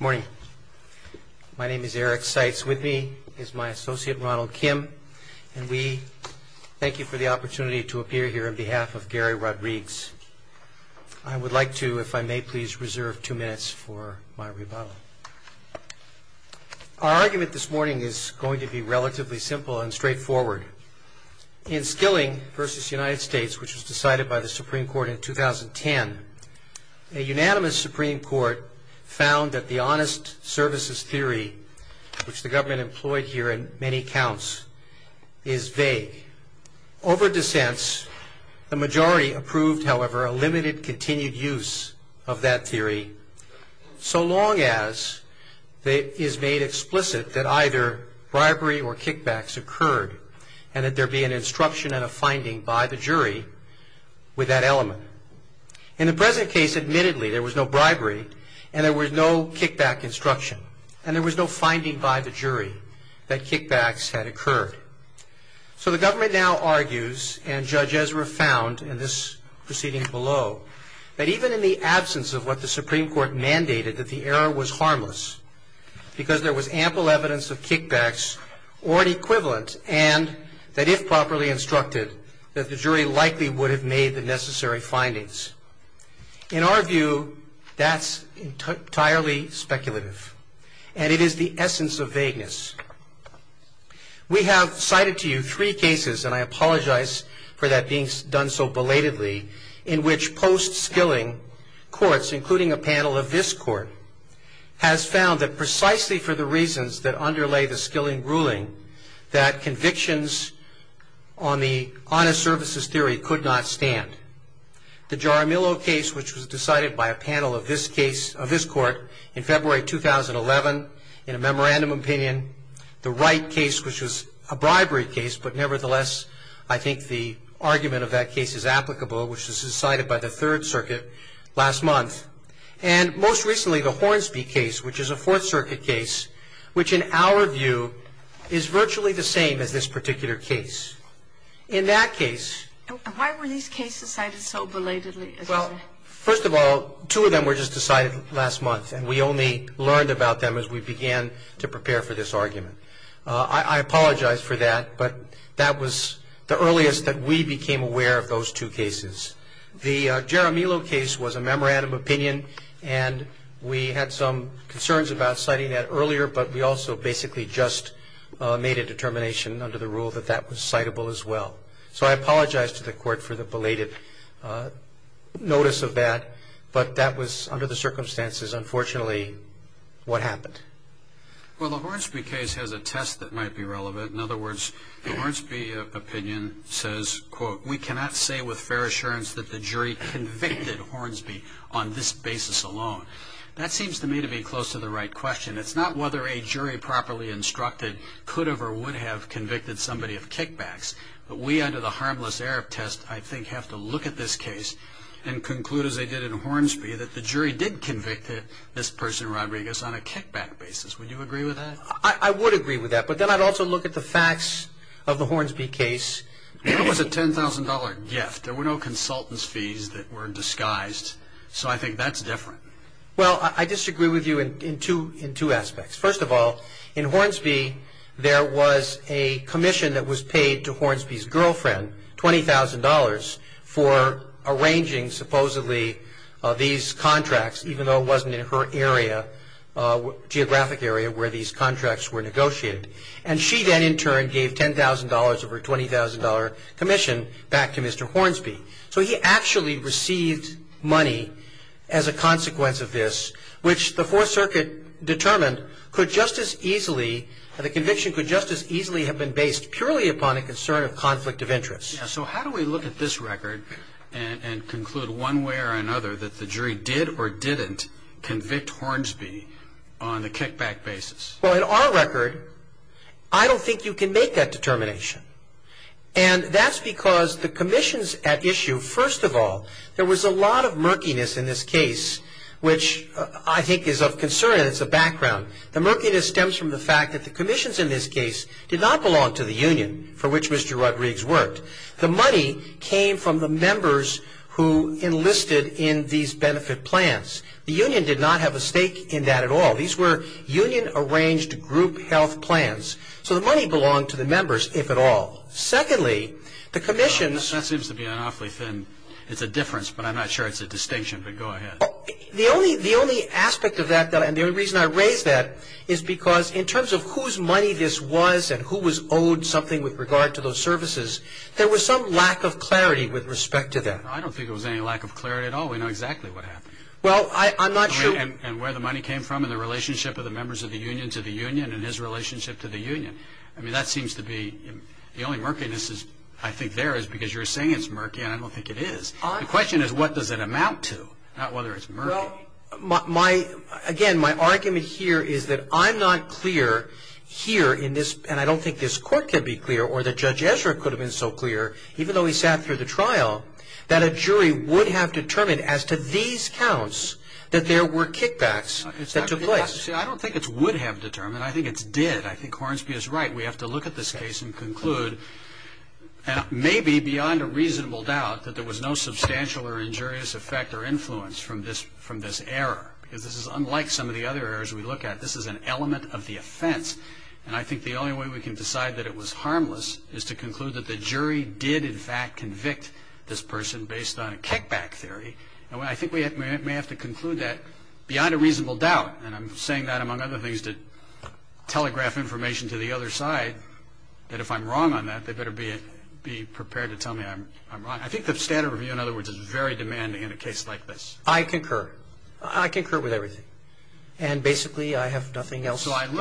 Morning. My name is Eric Seitz. With me is my associate, Ronald Kim, and we thank you for the opportunity to appear here on behalf of Gary Rodrigues. I would like to, if I may please, reserve two minutes for my rebuttal. Our argument this morning is going to be relatively simple and straightforward. In Skilling v. United States, which was decided by the Supreme Court in 2010, a unanimous Supreme Court found that the honest services theory, which the government employed here in many counts, is vague. Over dissents, the majority approved, however, a limited continued use of that theory, so long as it is made explicit that either bribery or kickbacks occurred and that there be an instruction and a finding by the jury with that element. In the present case, admittedly, there was no bribery and there was no kickback instruction and there was no finding by the jury that kickbacks had occurred. So the government now argues, and Judge Ezra found in this proceeding below, that even in the absence of what the Supreme Court mandated, that the error was harmless because there was ample evidence of kickbacks or an equivalent and that, if properly instructed, that the jury likely would have made the necessary findings. In our view, that's entirely speculative and it is the essence of vagueness. We have cited to you three cases, and I apologize for that being done so belatedly, in which post-Skilling courts, including a panel of this Court, has found that precisely for the reasons that underlay the Skilling ruling, that convictions on the honest services theory could not stand. The Jaramillo case, which was decided by a panel of this Court in February 2011, in a memorandum opinion, the Wright case, which was a bribery case, but nevertheless I think the argument of that case is applicable, which was decided by the Third Circuit last month, and most recently the Hornsby case, which is a Fourth Circuit case, which in our view is virtually the same as this particular case. In that case... And why were these cases cited so belatedly? Well, first of all, two of them were just decided last month and we only learned about them as we began to prepare for this argument. I apologize for that, but that was the earliest that we became aware of those two cases. The Jaramillo case was a memorandum opinion and we had some concerns about citing that earlier, but we also basically just made a determination under the rule that that was citable as well. So I apologize to the Court for the belated notice of that, but that was under the circumstances. Unfortunately, what happened? Well, the Hornsby case has a test that might be relevant. In other words, the Hornsby opinion says, we cannot say with fair assurance that the jury convicted Hornsby on this basis alone. That seems to me to be close to the right question. It's not whether a jury properly instructed could have or would have convicted somebody of kickbacks, but we under the harmless error test I think have to look at this case and conclude as they did in Hornsby that the jury did convict this person, Rodriguez, on a kickback basis. Would you agree with that? I would agree with that, but then I'd also look at the facts of the Hornsby case. There was a $10,000 gift. There were no consultant's fees that were disguised. So I think that's different. Well, I disagree with you in two aspects. First of all, in Hornsby there was a commission that was paid to Hornsby's girlfriend, $20,000, for arranging supposedly these contracts, even though it wasn't in her area, geographic area where these contracts were negotiated. And she then in turn gave $10,000 of her $20,000 commission back to Mr. Hornsby. So he actually received money as a consequence of this, which the Fourth Circuit determined could just as easily, the conviction could just as easily have been based purely upon a concern of conflict of interest. So how do we look at this record and conclude one way or another that the jury did or didn't convict Hornsby on the kickback basis? Well, in our record, I don't think you can make that determination. And that's because the commissions at issue, first of all, there was a lot of murkiness in this case, which I think is of concern and it's a background. The murkiness stems from the fact that the commissions in this case did not belong to the union for which Mr. Rodriguez worked. The money came from the members who enlisted in these benefit plans. The union did not have a stake in that at all. These were union-arranged group health plans. So the money belonged to the members, if at all. Secondly, the commissions... That seems to be an awfully thin, it's a difference, but I'm not sure it's a distinction, but go ahead. The only aspect of that, and the only reason I raise that, is because in terms of whose money this was and who was owed something with regard to those services, there was some lack of clarity with respect to that. I don't think there was any lack of clarity at all. We know exactly what happened. Well, I'm not sure... And where the money came from and the relationship of the members of the union to the union and his relationship to the union. I mean, that seems to be... The only murkiness, I think, there is because you're saying it's murky and I don't think it is. The question is what does it amount to, not whether it's murky. Well, again, my argument here is that I'm not clear here in this, and I don't think this Court can be clear or that Judge Ezra could have been so clear, even though he sat through the trial, that a jury would have determined as to these counts that there were kickbacks that took place. See, I don't think it's would have determined. I think it's did. I think Hornsby is right. We have to look at this case and conclude, maybe beyond a reasonable doubt, that there was no substantial or injurious effect or influence from this error, because this is unlike some of the other errors we look at. This is an element of the offense, and I think the only way we can decide that it was harmless is to conclude that the jury did, in fact, convict this person based on a kickback theory, and I think we may have to conclude that beyond a reasonable doubt, and I'm saying that, among other things, to telegraph information to the other side, that if I'm wrong on that, they better be prepared to tell me I'm wrong. I think the standard review, in other words, is very demanding in a case like this. I concur. I concur with everything, and basically I have nothing else to add. So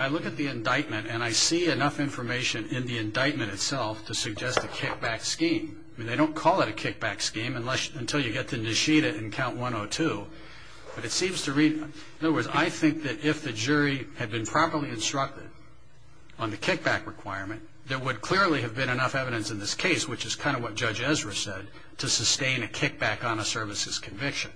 I look at the indictment, and I see enough information in the indictment itself to suggest a kickback scheme. I mean, they don't call it a kickback scheme until you get to Nishida in Count 102, but it seems to read, in other words, I think that if the jury had been properly instructed on the kickback requirement, there would clearly have been enough evidence in this case, which is kind of what Judge Ezra said, to sustain a kickback on a services conviction.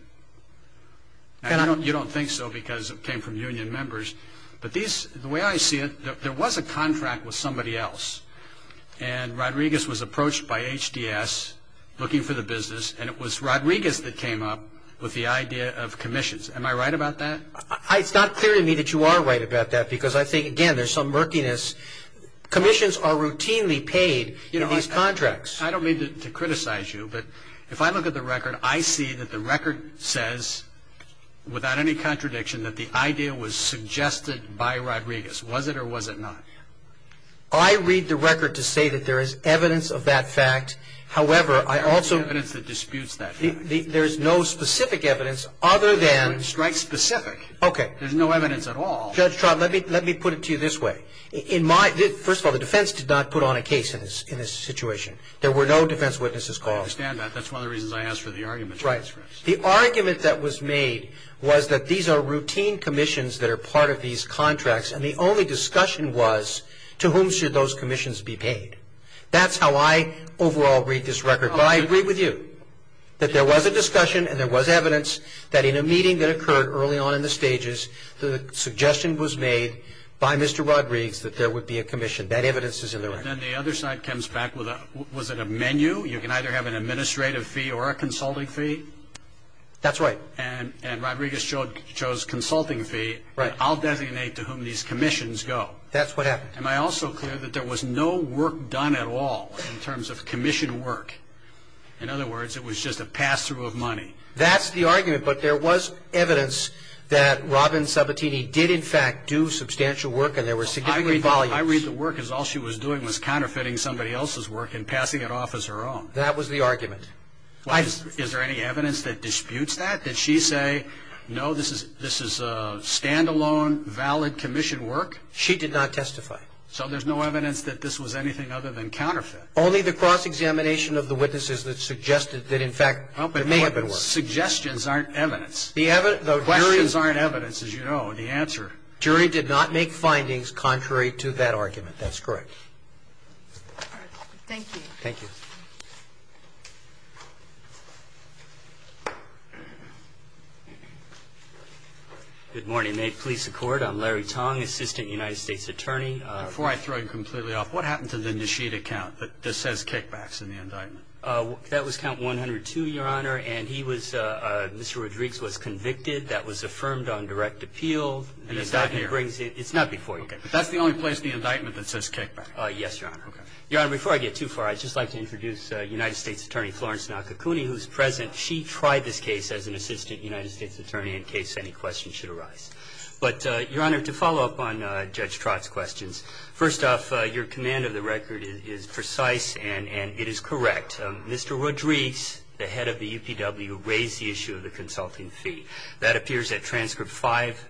You don't think so because it came from union members, but the way I see it, there was a contract with somebody else, and Rodriguez was approached by HDS looking for the business, and it was Rodriguez that came up with the idea of commissions. Am I right about that? It's not clear to me that you are right about that because I think, again, there's some murkiness. Commissions are routinely paid in these contracts. I don't mean to criticize you, but if I look at the record, I see that the record says, without any contradiction, that the idea was suggested by Rodriguez. Was it or was it not? I read the record to say that there is evidence of that fact. However, I also – There is no evidence that disputes that fact. There is no specific evidence other than – It strikes specific. Okay. There's no evidence at all. Judge Trautman, let me put it to you this way. First of all, the defense did not put on a case in this situation. There were no defense witnesses called. I understand that. That's one of the reasons I asked for the argument in the transcripts. Right. The argument that was made was that these are routine commissions that are part of these contracts, and the only discussion was to whom should those commissions be paid. That's how I overall read this record. But I agree with you that there was a discussion and there was evidence that in a meeting that occurred early on in the stages, the suggestion was made by Mr. Rodriguez that there would be a commission. That evidence is in the record. Then the other side comes back with a – was it a menu? You can either have an administrative fee or a consulting fee. That's right. And Rodriguez chose consulting fee. Right. I'll designate to whom these commissions go. That's what happened. Am I also clear that there was no work done at all in terms of commission work? In other words, it was just a pass-through of money. That's the argument, but there was evidence that Robin Sabatini did in fact do substantial work and there were significant volumes. I read the work as all she was doing was counterfeiting somebody else's work and passing it off as her own. That was the argument. Is there any evidence that disputes that? Did she say, no, this is stand-alone, valid commission work? She did not testify. So there's no evidence that this was anything other than counterfeit? Only the cross-examination of the witnesses that suggested that in fact there may have been work. Suggestions aren't evidence. The questions aren't evidence, as you know. The answer. The jury did not make findings contrary to that argument. That's correct. All right. Thank you. Thank you. Good morning. May it please the Court. I'm Larry Tong, Assistant United States Attorney. Before I throw you completely off, what happened to the Nishida count that says kickbacks in the indictment? That was count 102, Your Honor, and he was Mr. Rodriguez was convicted. That was affirmed on direct appeal. And it's not here. It's not before you. Okay. But that's the only place in the indictment that says kickback. Yes, Your Honor. Okay. Your Honor, before I get too far, I'd just like to introduce United States Attorney Florence Nakakuni, who's present. She tried this case as an Assistant United States Attorney in case any questions should arise. But, Your Honor, to follow up on Judge Trott's questions, first off, your command of the record is precise and it is correct. Mr. Rodriguez, the head of the UPW, raised the issue of the consulting fee. That appears at transcript five,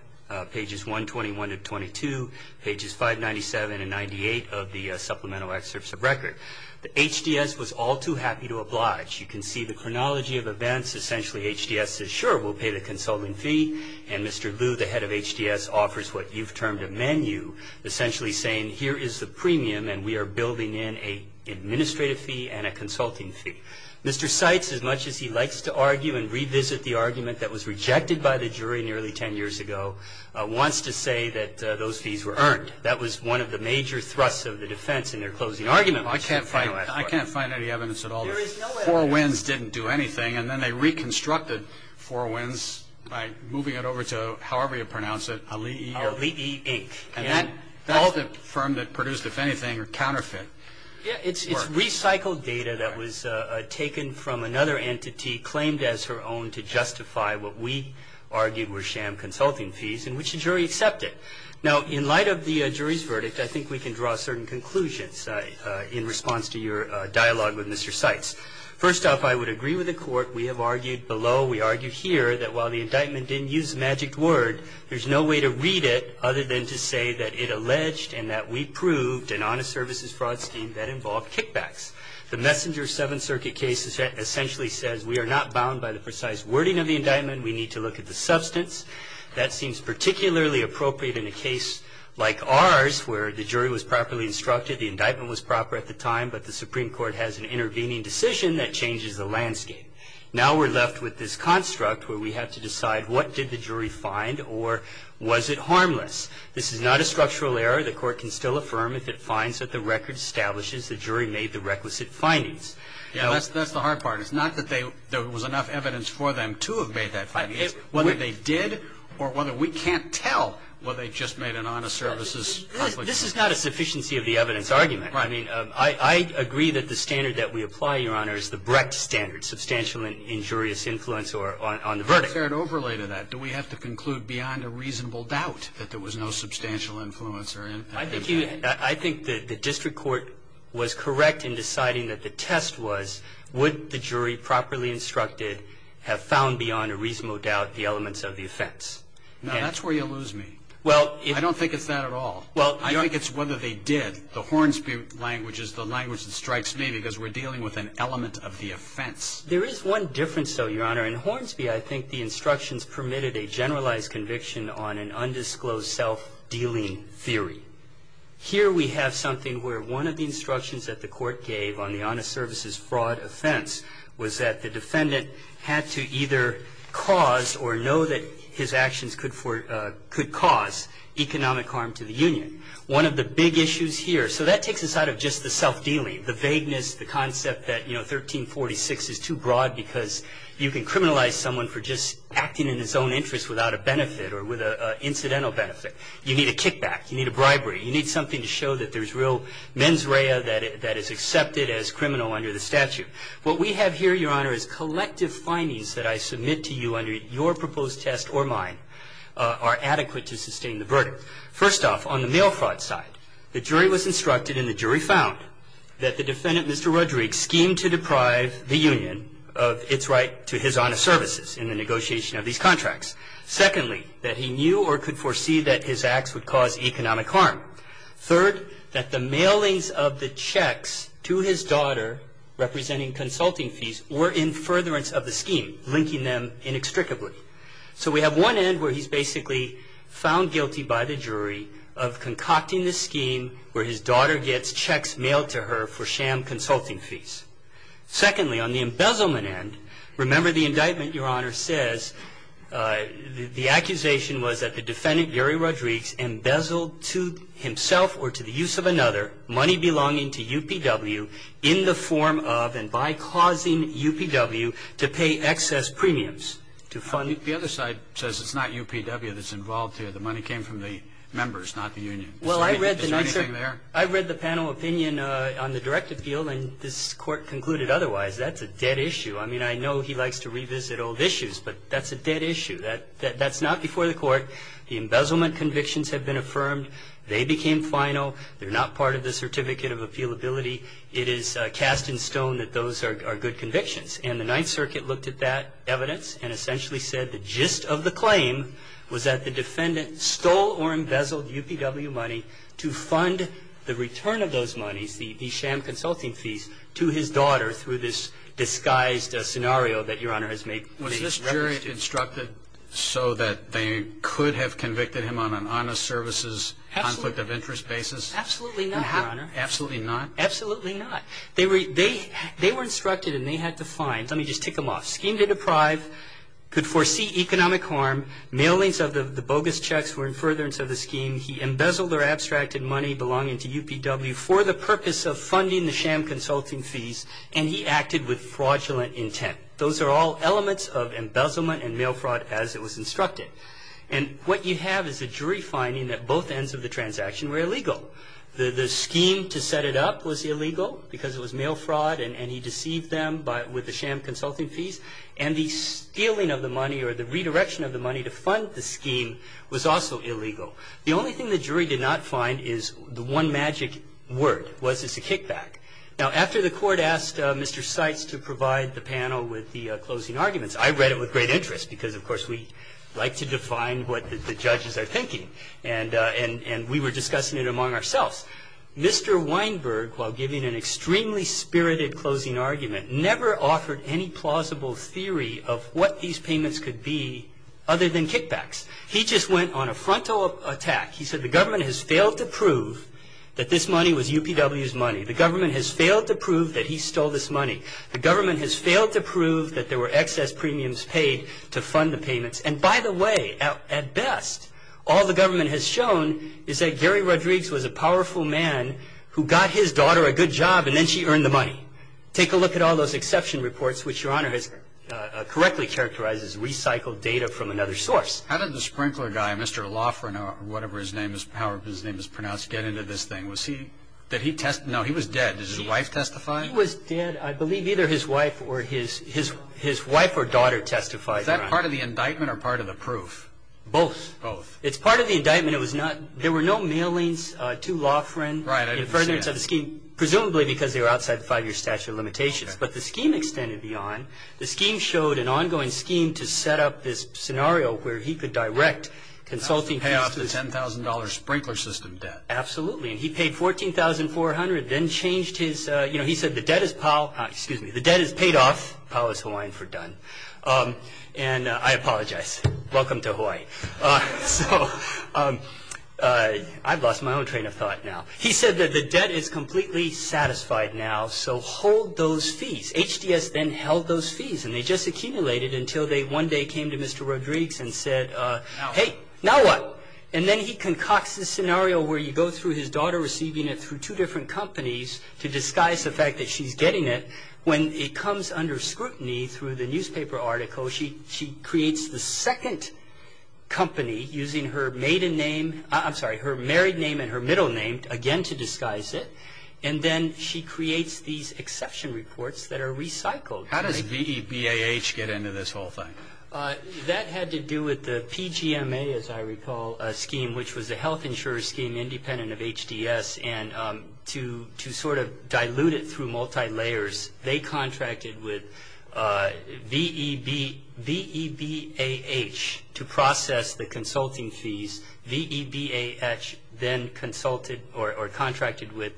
pages 121 to 22, pages 597 and 98 of the supplemental excerpts of record. The HDS was all too happy to oblige. You can see the chronology of events. Essentially, HDS says, sure, we'll pay the consulting fee. And Mr. Liu, the head of HDS, offers what you've termed a menu, essentially saying here is the premium and we are building in an administrative fee and a consulting fee. Mr. Seitz, as much as he likes to argue and revisit the argument that was rejected by the jury nearly 10 years ago, wants to say that those fees were earned. That was one of the major thrusts of the defense in their closing argument. I can't find any evidence at all. Four wins didn't do anything. And then they reconstructed four wins by moving it over to, however you pronounce it, Ali'i, Inc. And that's the firm that produced, if anything, a counterfeit. It's recycled data that was taken from another entity, claimed as her own to justify what we argued were sham consulting fees, in which the jury accepted. Now, in light of the jury's verdict, I think we can draw certain conclusions in response to your dialogue with Mr. Seitz. First off, I would agree with the Court. We have argued below, we argue here, that while the indictment didn't use the magic word, there's no way to read it other than to say that it alleged and that we proved an honest services fraud scheme that involved kickbacks. The Messenger Seventh Circuit case essentially says we are not bound by the precise wording of the indictment. We need to look at the substance. That seems particularly appropriate in a case like ours where the jury was properly instructed, the indictment was proper at the time, but the Supreme Court has an intervening decision that changes the landscape. Now we're left with this construct where we have to decide what did the jury find or was it harmless. This is not a structural error. The Court can still affirm if it finds that the record establishes the jury made the requisite findings. And that's the hard part. It's not that there was enough evidence for them to have made that findings. Whether they did or whether we can't tell whether they just made an honest services conflict. This is not a sufficiency of the evidence argument. I mean, I agree that the standard that we apply, Your Honor, is the Brecht standard, substantial injurious influence on the verdict. Is there an overlay to that? Do we have to conclude beyond a reasonable doubt that there was no substantial influence? I think the district court was correct in deciding that the test was would the jury properly instructed have found beyond a reasonable doubt the elements of the offense? No, that's where you lose me. I don't think it's that at all. I think it's whether they did. The Hornsby language is the language that strikes me because we're dealing with an element of the offense. There is one difference, though, Your Honor. In Hornsby, I think the instructions permitted a generalized conviction on an undisclosed self-dealing theory. Here we have something where one of the instructions that the court gave on the honest services fraud offense was that the defendant had to either cause or know that his actions could cause economic harm to the union. One of the big issues here, so that takes us out of just the self-dealing, the vagueness, the concept that, you know, 1346 is too broad because you can criminalize someone for just acting in his own interest without a benefit or with an incidental benefit. You need a kickback. You need a bribery. You need something to show that there's real mens rea that is accepted as criminal under the statute. What we have here, Your Honor, is collective findings that I submit to you under your proposed test or mine are adequate to sustain the verdict. First off, on the mail fraud side, the jury was instructed and the jury found that the of these contracts. Secondly, that he knew or could foresee that his acts would cause economic harm. Third, that the mailings of the checks to his daughter representing consulting fees were in furtherance of the scheme, linking them inextricably. So we have one end where he's basically found guilty by the jury of concocting the scheme where his daughter gets checks mailed to her for sham consulting fees. Secondly, on the embezzlement end, remember the indictment, Your Honor, says the accusation was that the defendant, Gary Rodrigues, embezzled to himself or to the use of another money belonging to UPW in the form of and by causing UPW to pay excess premiums. The other side says it's not UPW that's involved here. The money came from the members, not the union. Is there anything there? I read the panel opinion on the direct appeal and this court concluded otherwise. That's a dead issue. I mean, I know he likes to revisit old issues, but that's a dead issue. That's not before the court. The embezzlement convictions have been affirmed. They became final. They're not part of the certificate of appealability. It is cast in stone that those are good convictions. And the Ninth Circuit looked at that evidence and essentially said the gist of the money, the sham consulting fees, to his daughter through this disguised scenario that Your Honor has made. Was this jury instructed so that they could have convicted him on an honest services conflict of interest basis? Absolutely not, Your Honor. Absolutely not? Absolutely not. They were instructed and they had to find, let me just tick them off, schemed and deprived, could foresee economic harm, mailings of the bogus checks were in abstracted money belonging to UPW for the purpose of funding the sham consulting fees and he acted with fraudulent intent. Those are all elements of embezzlement and mail fraud as it was instructed. And what you have is a jury finding that both ends of the transaction were illegal. The scheme to set it up was illegal because it was mail fraud and he deceived them with the sham consulting fees and the stealing of the money or the redirection of the money to fund the scheme was also illegal. The only thing the jury did not find is the one magic word. Was this a kickback? Now, after the Court asked Mr. Seitz to provide the panel with the closing arguments – I read it with great interest because, of course, we like to define what the judges are thinking and we were discussing it among ourselves – Mr. Weinberg, while giving an extremely spirited closing argument, never offered any plausible theory of what these payments could be other than kickbacks. He just went on a frontal attack. He said the government has failed to prove that this money was UPW's money. The government has failed to prove that he stole this money. The government has failed to prove that there were excess premiums paid to fund the payments and, by the way, at best, all the government has shown is that Gary Rodrigues was a powerful man who got his daughter a good job and then she earned the money. Take a look at all those exception reports, which Your Honor has correctly characterized as recycled data from another source. How did the sprinkler guy, Mr. Loughran or whatever his name is pronounced, get into this thing? Was he – did he – no, he was dead. Did his wife testify? He was dead. I believe either his wife or his wife or daughter testified, Your Honor. Was that part of the indictment or part of the proof? Both. Both. It's part of the indictment. It was not – there were no mailings to Loughran in furtherance of the scheme, presumably because they were outside the five-year statute of limitations. But the scheme extended beyond. The scheme showed an ongoing scheme to set up this scenario where he could direct consulting – Pay off the $10,000 sprinkler system debt. Absolutely. And he paid $14,400, then changed his – you know, he said the debt is – excuse me, the debt is paid off. Pow is Hawaiian for done. And I apologize. Welcome to Hawaii. So I've lost my own train of thought now. He said that the debt is completely satisfied now, so hold those fees. HDS then held those fees, and they just accumulated until they one day came to Mr. Rodrigues and said, hey, now what? And then he concocts this scenario where you go through his daughter receiving it through two different companies to disguise the fact that she's getting it. When it comes under scrutiny through the newspaper article, she creates the second company using her maiden name – I'm sorry, her married name and her middle name again to disguise it. And then she creates these exception reports that are recycled. How does VEBAH get into this whole thing? That had to do with the PGMA, as I recall, scheme, which was a health insurer scheme independent of HDS. And to sort of dilute it through multi-layers, they contracted with VEBAH to process the consulting fees. VEBAH then consulted or contracted with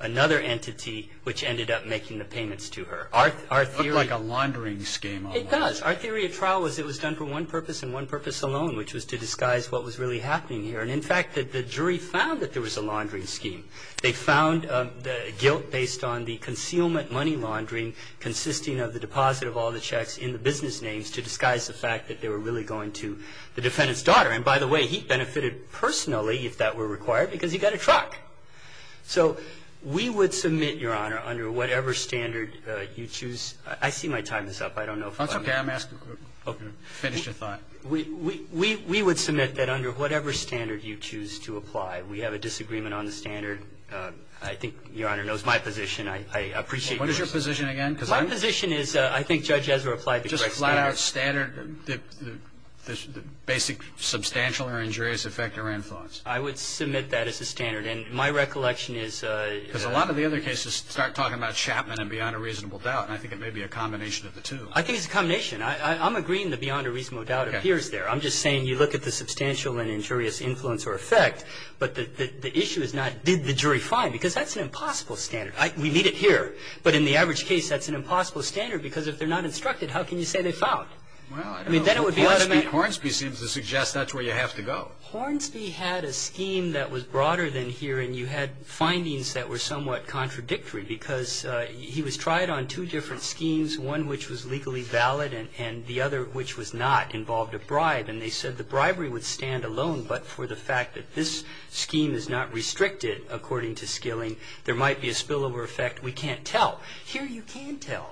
another entity, which ended up making the payments to her. It looked like a laundering scheme. It does. Our theory of trial was it was done for one purpose and one purpose alone, which was to disguise what was really happening here. And in fact, the jury found that there was a laundering scheme. They found the guilt based on the concealment money laundering consisting of the deposit of all the checks in the business names to disguise the fact that they were really going to the defendant's daughter. And by the way, he benefited personally, if that were required, because he got a truck. So we would submit, Your Honor, under whatever standard you choose. I see my time is up. I don't know if I'm going to ask a question. Roberts. I'm going to finish your thought. We would submit that under whatever standard you choose to apply, we have a disagreement on the standard. I think Your Honor knows my position. I appreciate your position. What is your position again? My position is I think Judge Ezra applied the correct standard. The basic substantial or injurious effect or influence. I would submit that as a standard. And my recollection is... Because a lot of the other cases start talking about Chapman and beyond a reasonable doubt, and I think it may be a combination of the two. I think it's a combination. I'm agreeing that beyond a reasonable doubt appears there. I'm just saying you look at the substantial and injurious influence or effect, but the issue is not did the jury find, because that's an impossible standard. We need it here. But in the average case, that's an impossible standard, because if they're not Well, I don't know. Hornsby seems to suggest that's where you have to go. Hornsby had a scheme that was broader than here, and you had findings that were somewhat contradictory, because he was tried on two different schemes, one which was legally valid and the other which was not, involved a bribe. And they said the bribery would stand alone, but for the fact that this scheme is not restricted, according to Skilling, there might be a spillover effect. We can't tell. Here you can tell.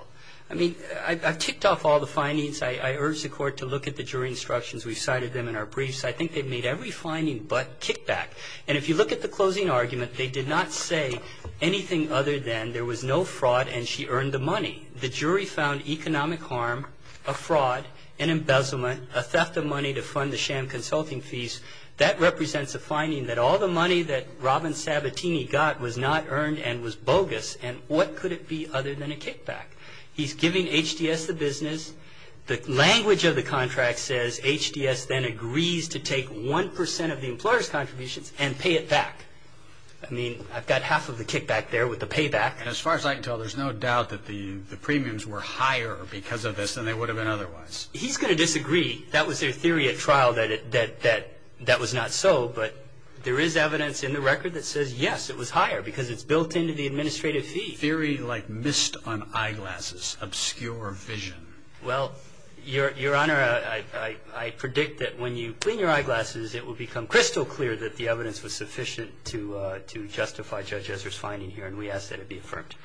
I mean, I've ticked off all the findings. I urged the Court to look at the jury instructions. We've cited them in our briefs. I think they've made every finding but kickback. And if you look at the closing argument, they did not say anything other than there was no fraud and she earned the money. The jury found economic harm, a fraud, an embezzlement, a theft of money to fund the sham consulting fees. That represents a finding that all the money that Robin Sabatini got was not earned and was bogus. And what could it be other than a kickback? He's giving HDS the business. The language of the contract says HDS then agrees to take 1 percent of the employer's contributions and pay it back. I mean, I've got half of the kickback there with the payback. As far as I can tell, there's no doubt that the premiums were higher because of this than they would have been otherwise. He's going to disagree. That was their theory at trial that that was not so, but there is evidence in the record that says, yes, it was higher because it's built into the administrative fee. A theory like mist on eyeglasses, obscure vision. Well, Your Honor, I predict that when you clean your eyeglasses, it will become crystal clear that the evidence was sufficient to justify Judge Ezra's finding here and we ask that it be affirmed.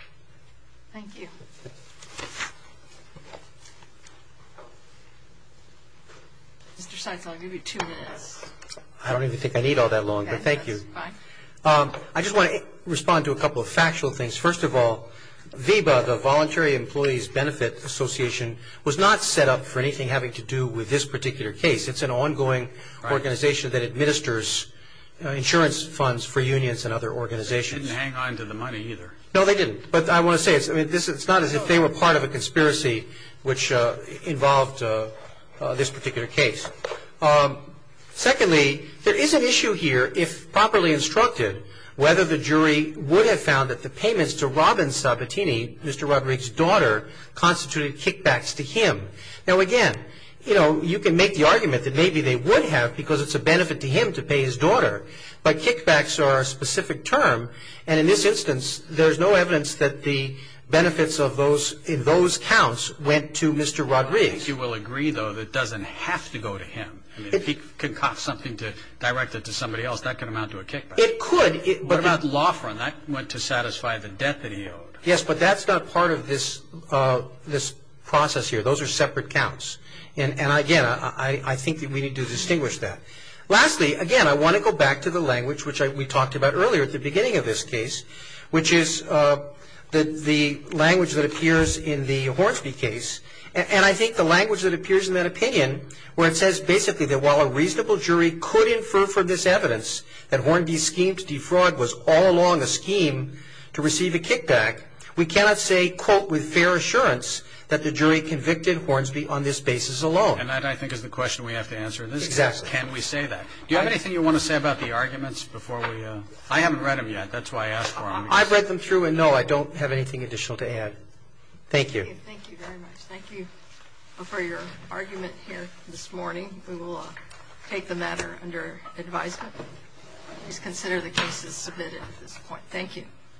Thank you. Mr. Seitz, I'll give you two minutes. I don't even think I need all that long, but thank you. That's fine. I just want to respond to a couple of factual things. First of all, VEBA, the Voluntary Employees Benefit Association, was not set up for anything having to do with this particular case. It's an ongoing organization that administers insurance funds for unions and other organizations. They didn't hang on to the money either. No, they didn't, but I want to say it's not as if they were part of a conspiracy which involved this particular case. Secondly, there is an issue here, if properly instructed, whether the jury would have found that the payments to Robin Sabatini, Mr. Roderick's daughter, constituted kickbacks to him. Now, again, you can make the argument that maybe they would have because it's a benefit to him to pay his daughter, but kickbacks are a specific term, and in this instance, there's no evidence that the benefits in those counts went to Mr. Roderick. You will agree, though, that it doesn't have to go to him. If he concocts something directed to somebody else, that could amount to a kickback. It could. What about law firm? That went to satisfy the debt that he owed. Yes, but that's not part of this process here. Those are separate counts, and, again, I think that we need to distinguish that. Lastly, again, I want to go back to the language which we talked about earlier at the beginning of this case, which is the language that appears in the Hornsby case, and I think the language that appears in that opinion where it says basically that while a reasonable jury could infer from this evidence that Hornby's scheme to defraud was all along a scheme to receive a kickback, we cannot say, quote, with fair assurance that the jury convicted Hornsby on this basis alone. And that, I think, is the question we have to answer in this case. Exactly. Can we say that? Do you have anything you want to say about the arguments before we go? I haven't read them yet. That's why I asked for them. I've read them through, and, no, I don't have anything additional to add. Thank you. Thank you very much. Thank you for your argument here this morning. We will take the matter under advisement. Please consider the cases submitted at this point. Thank you.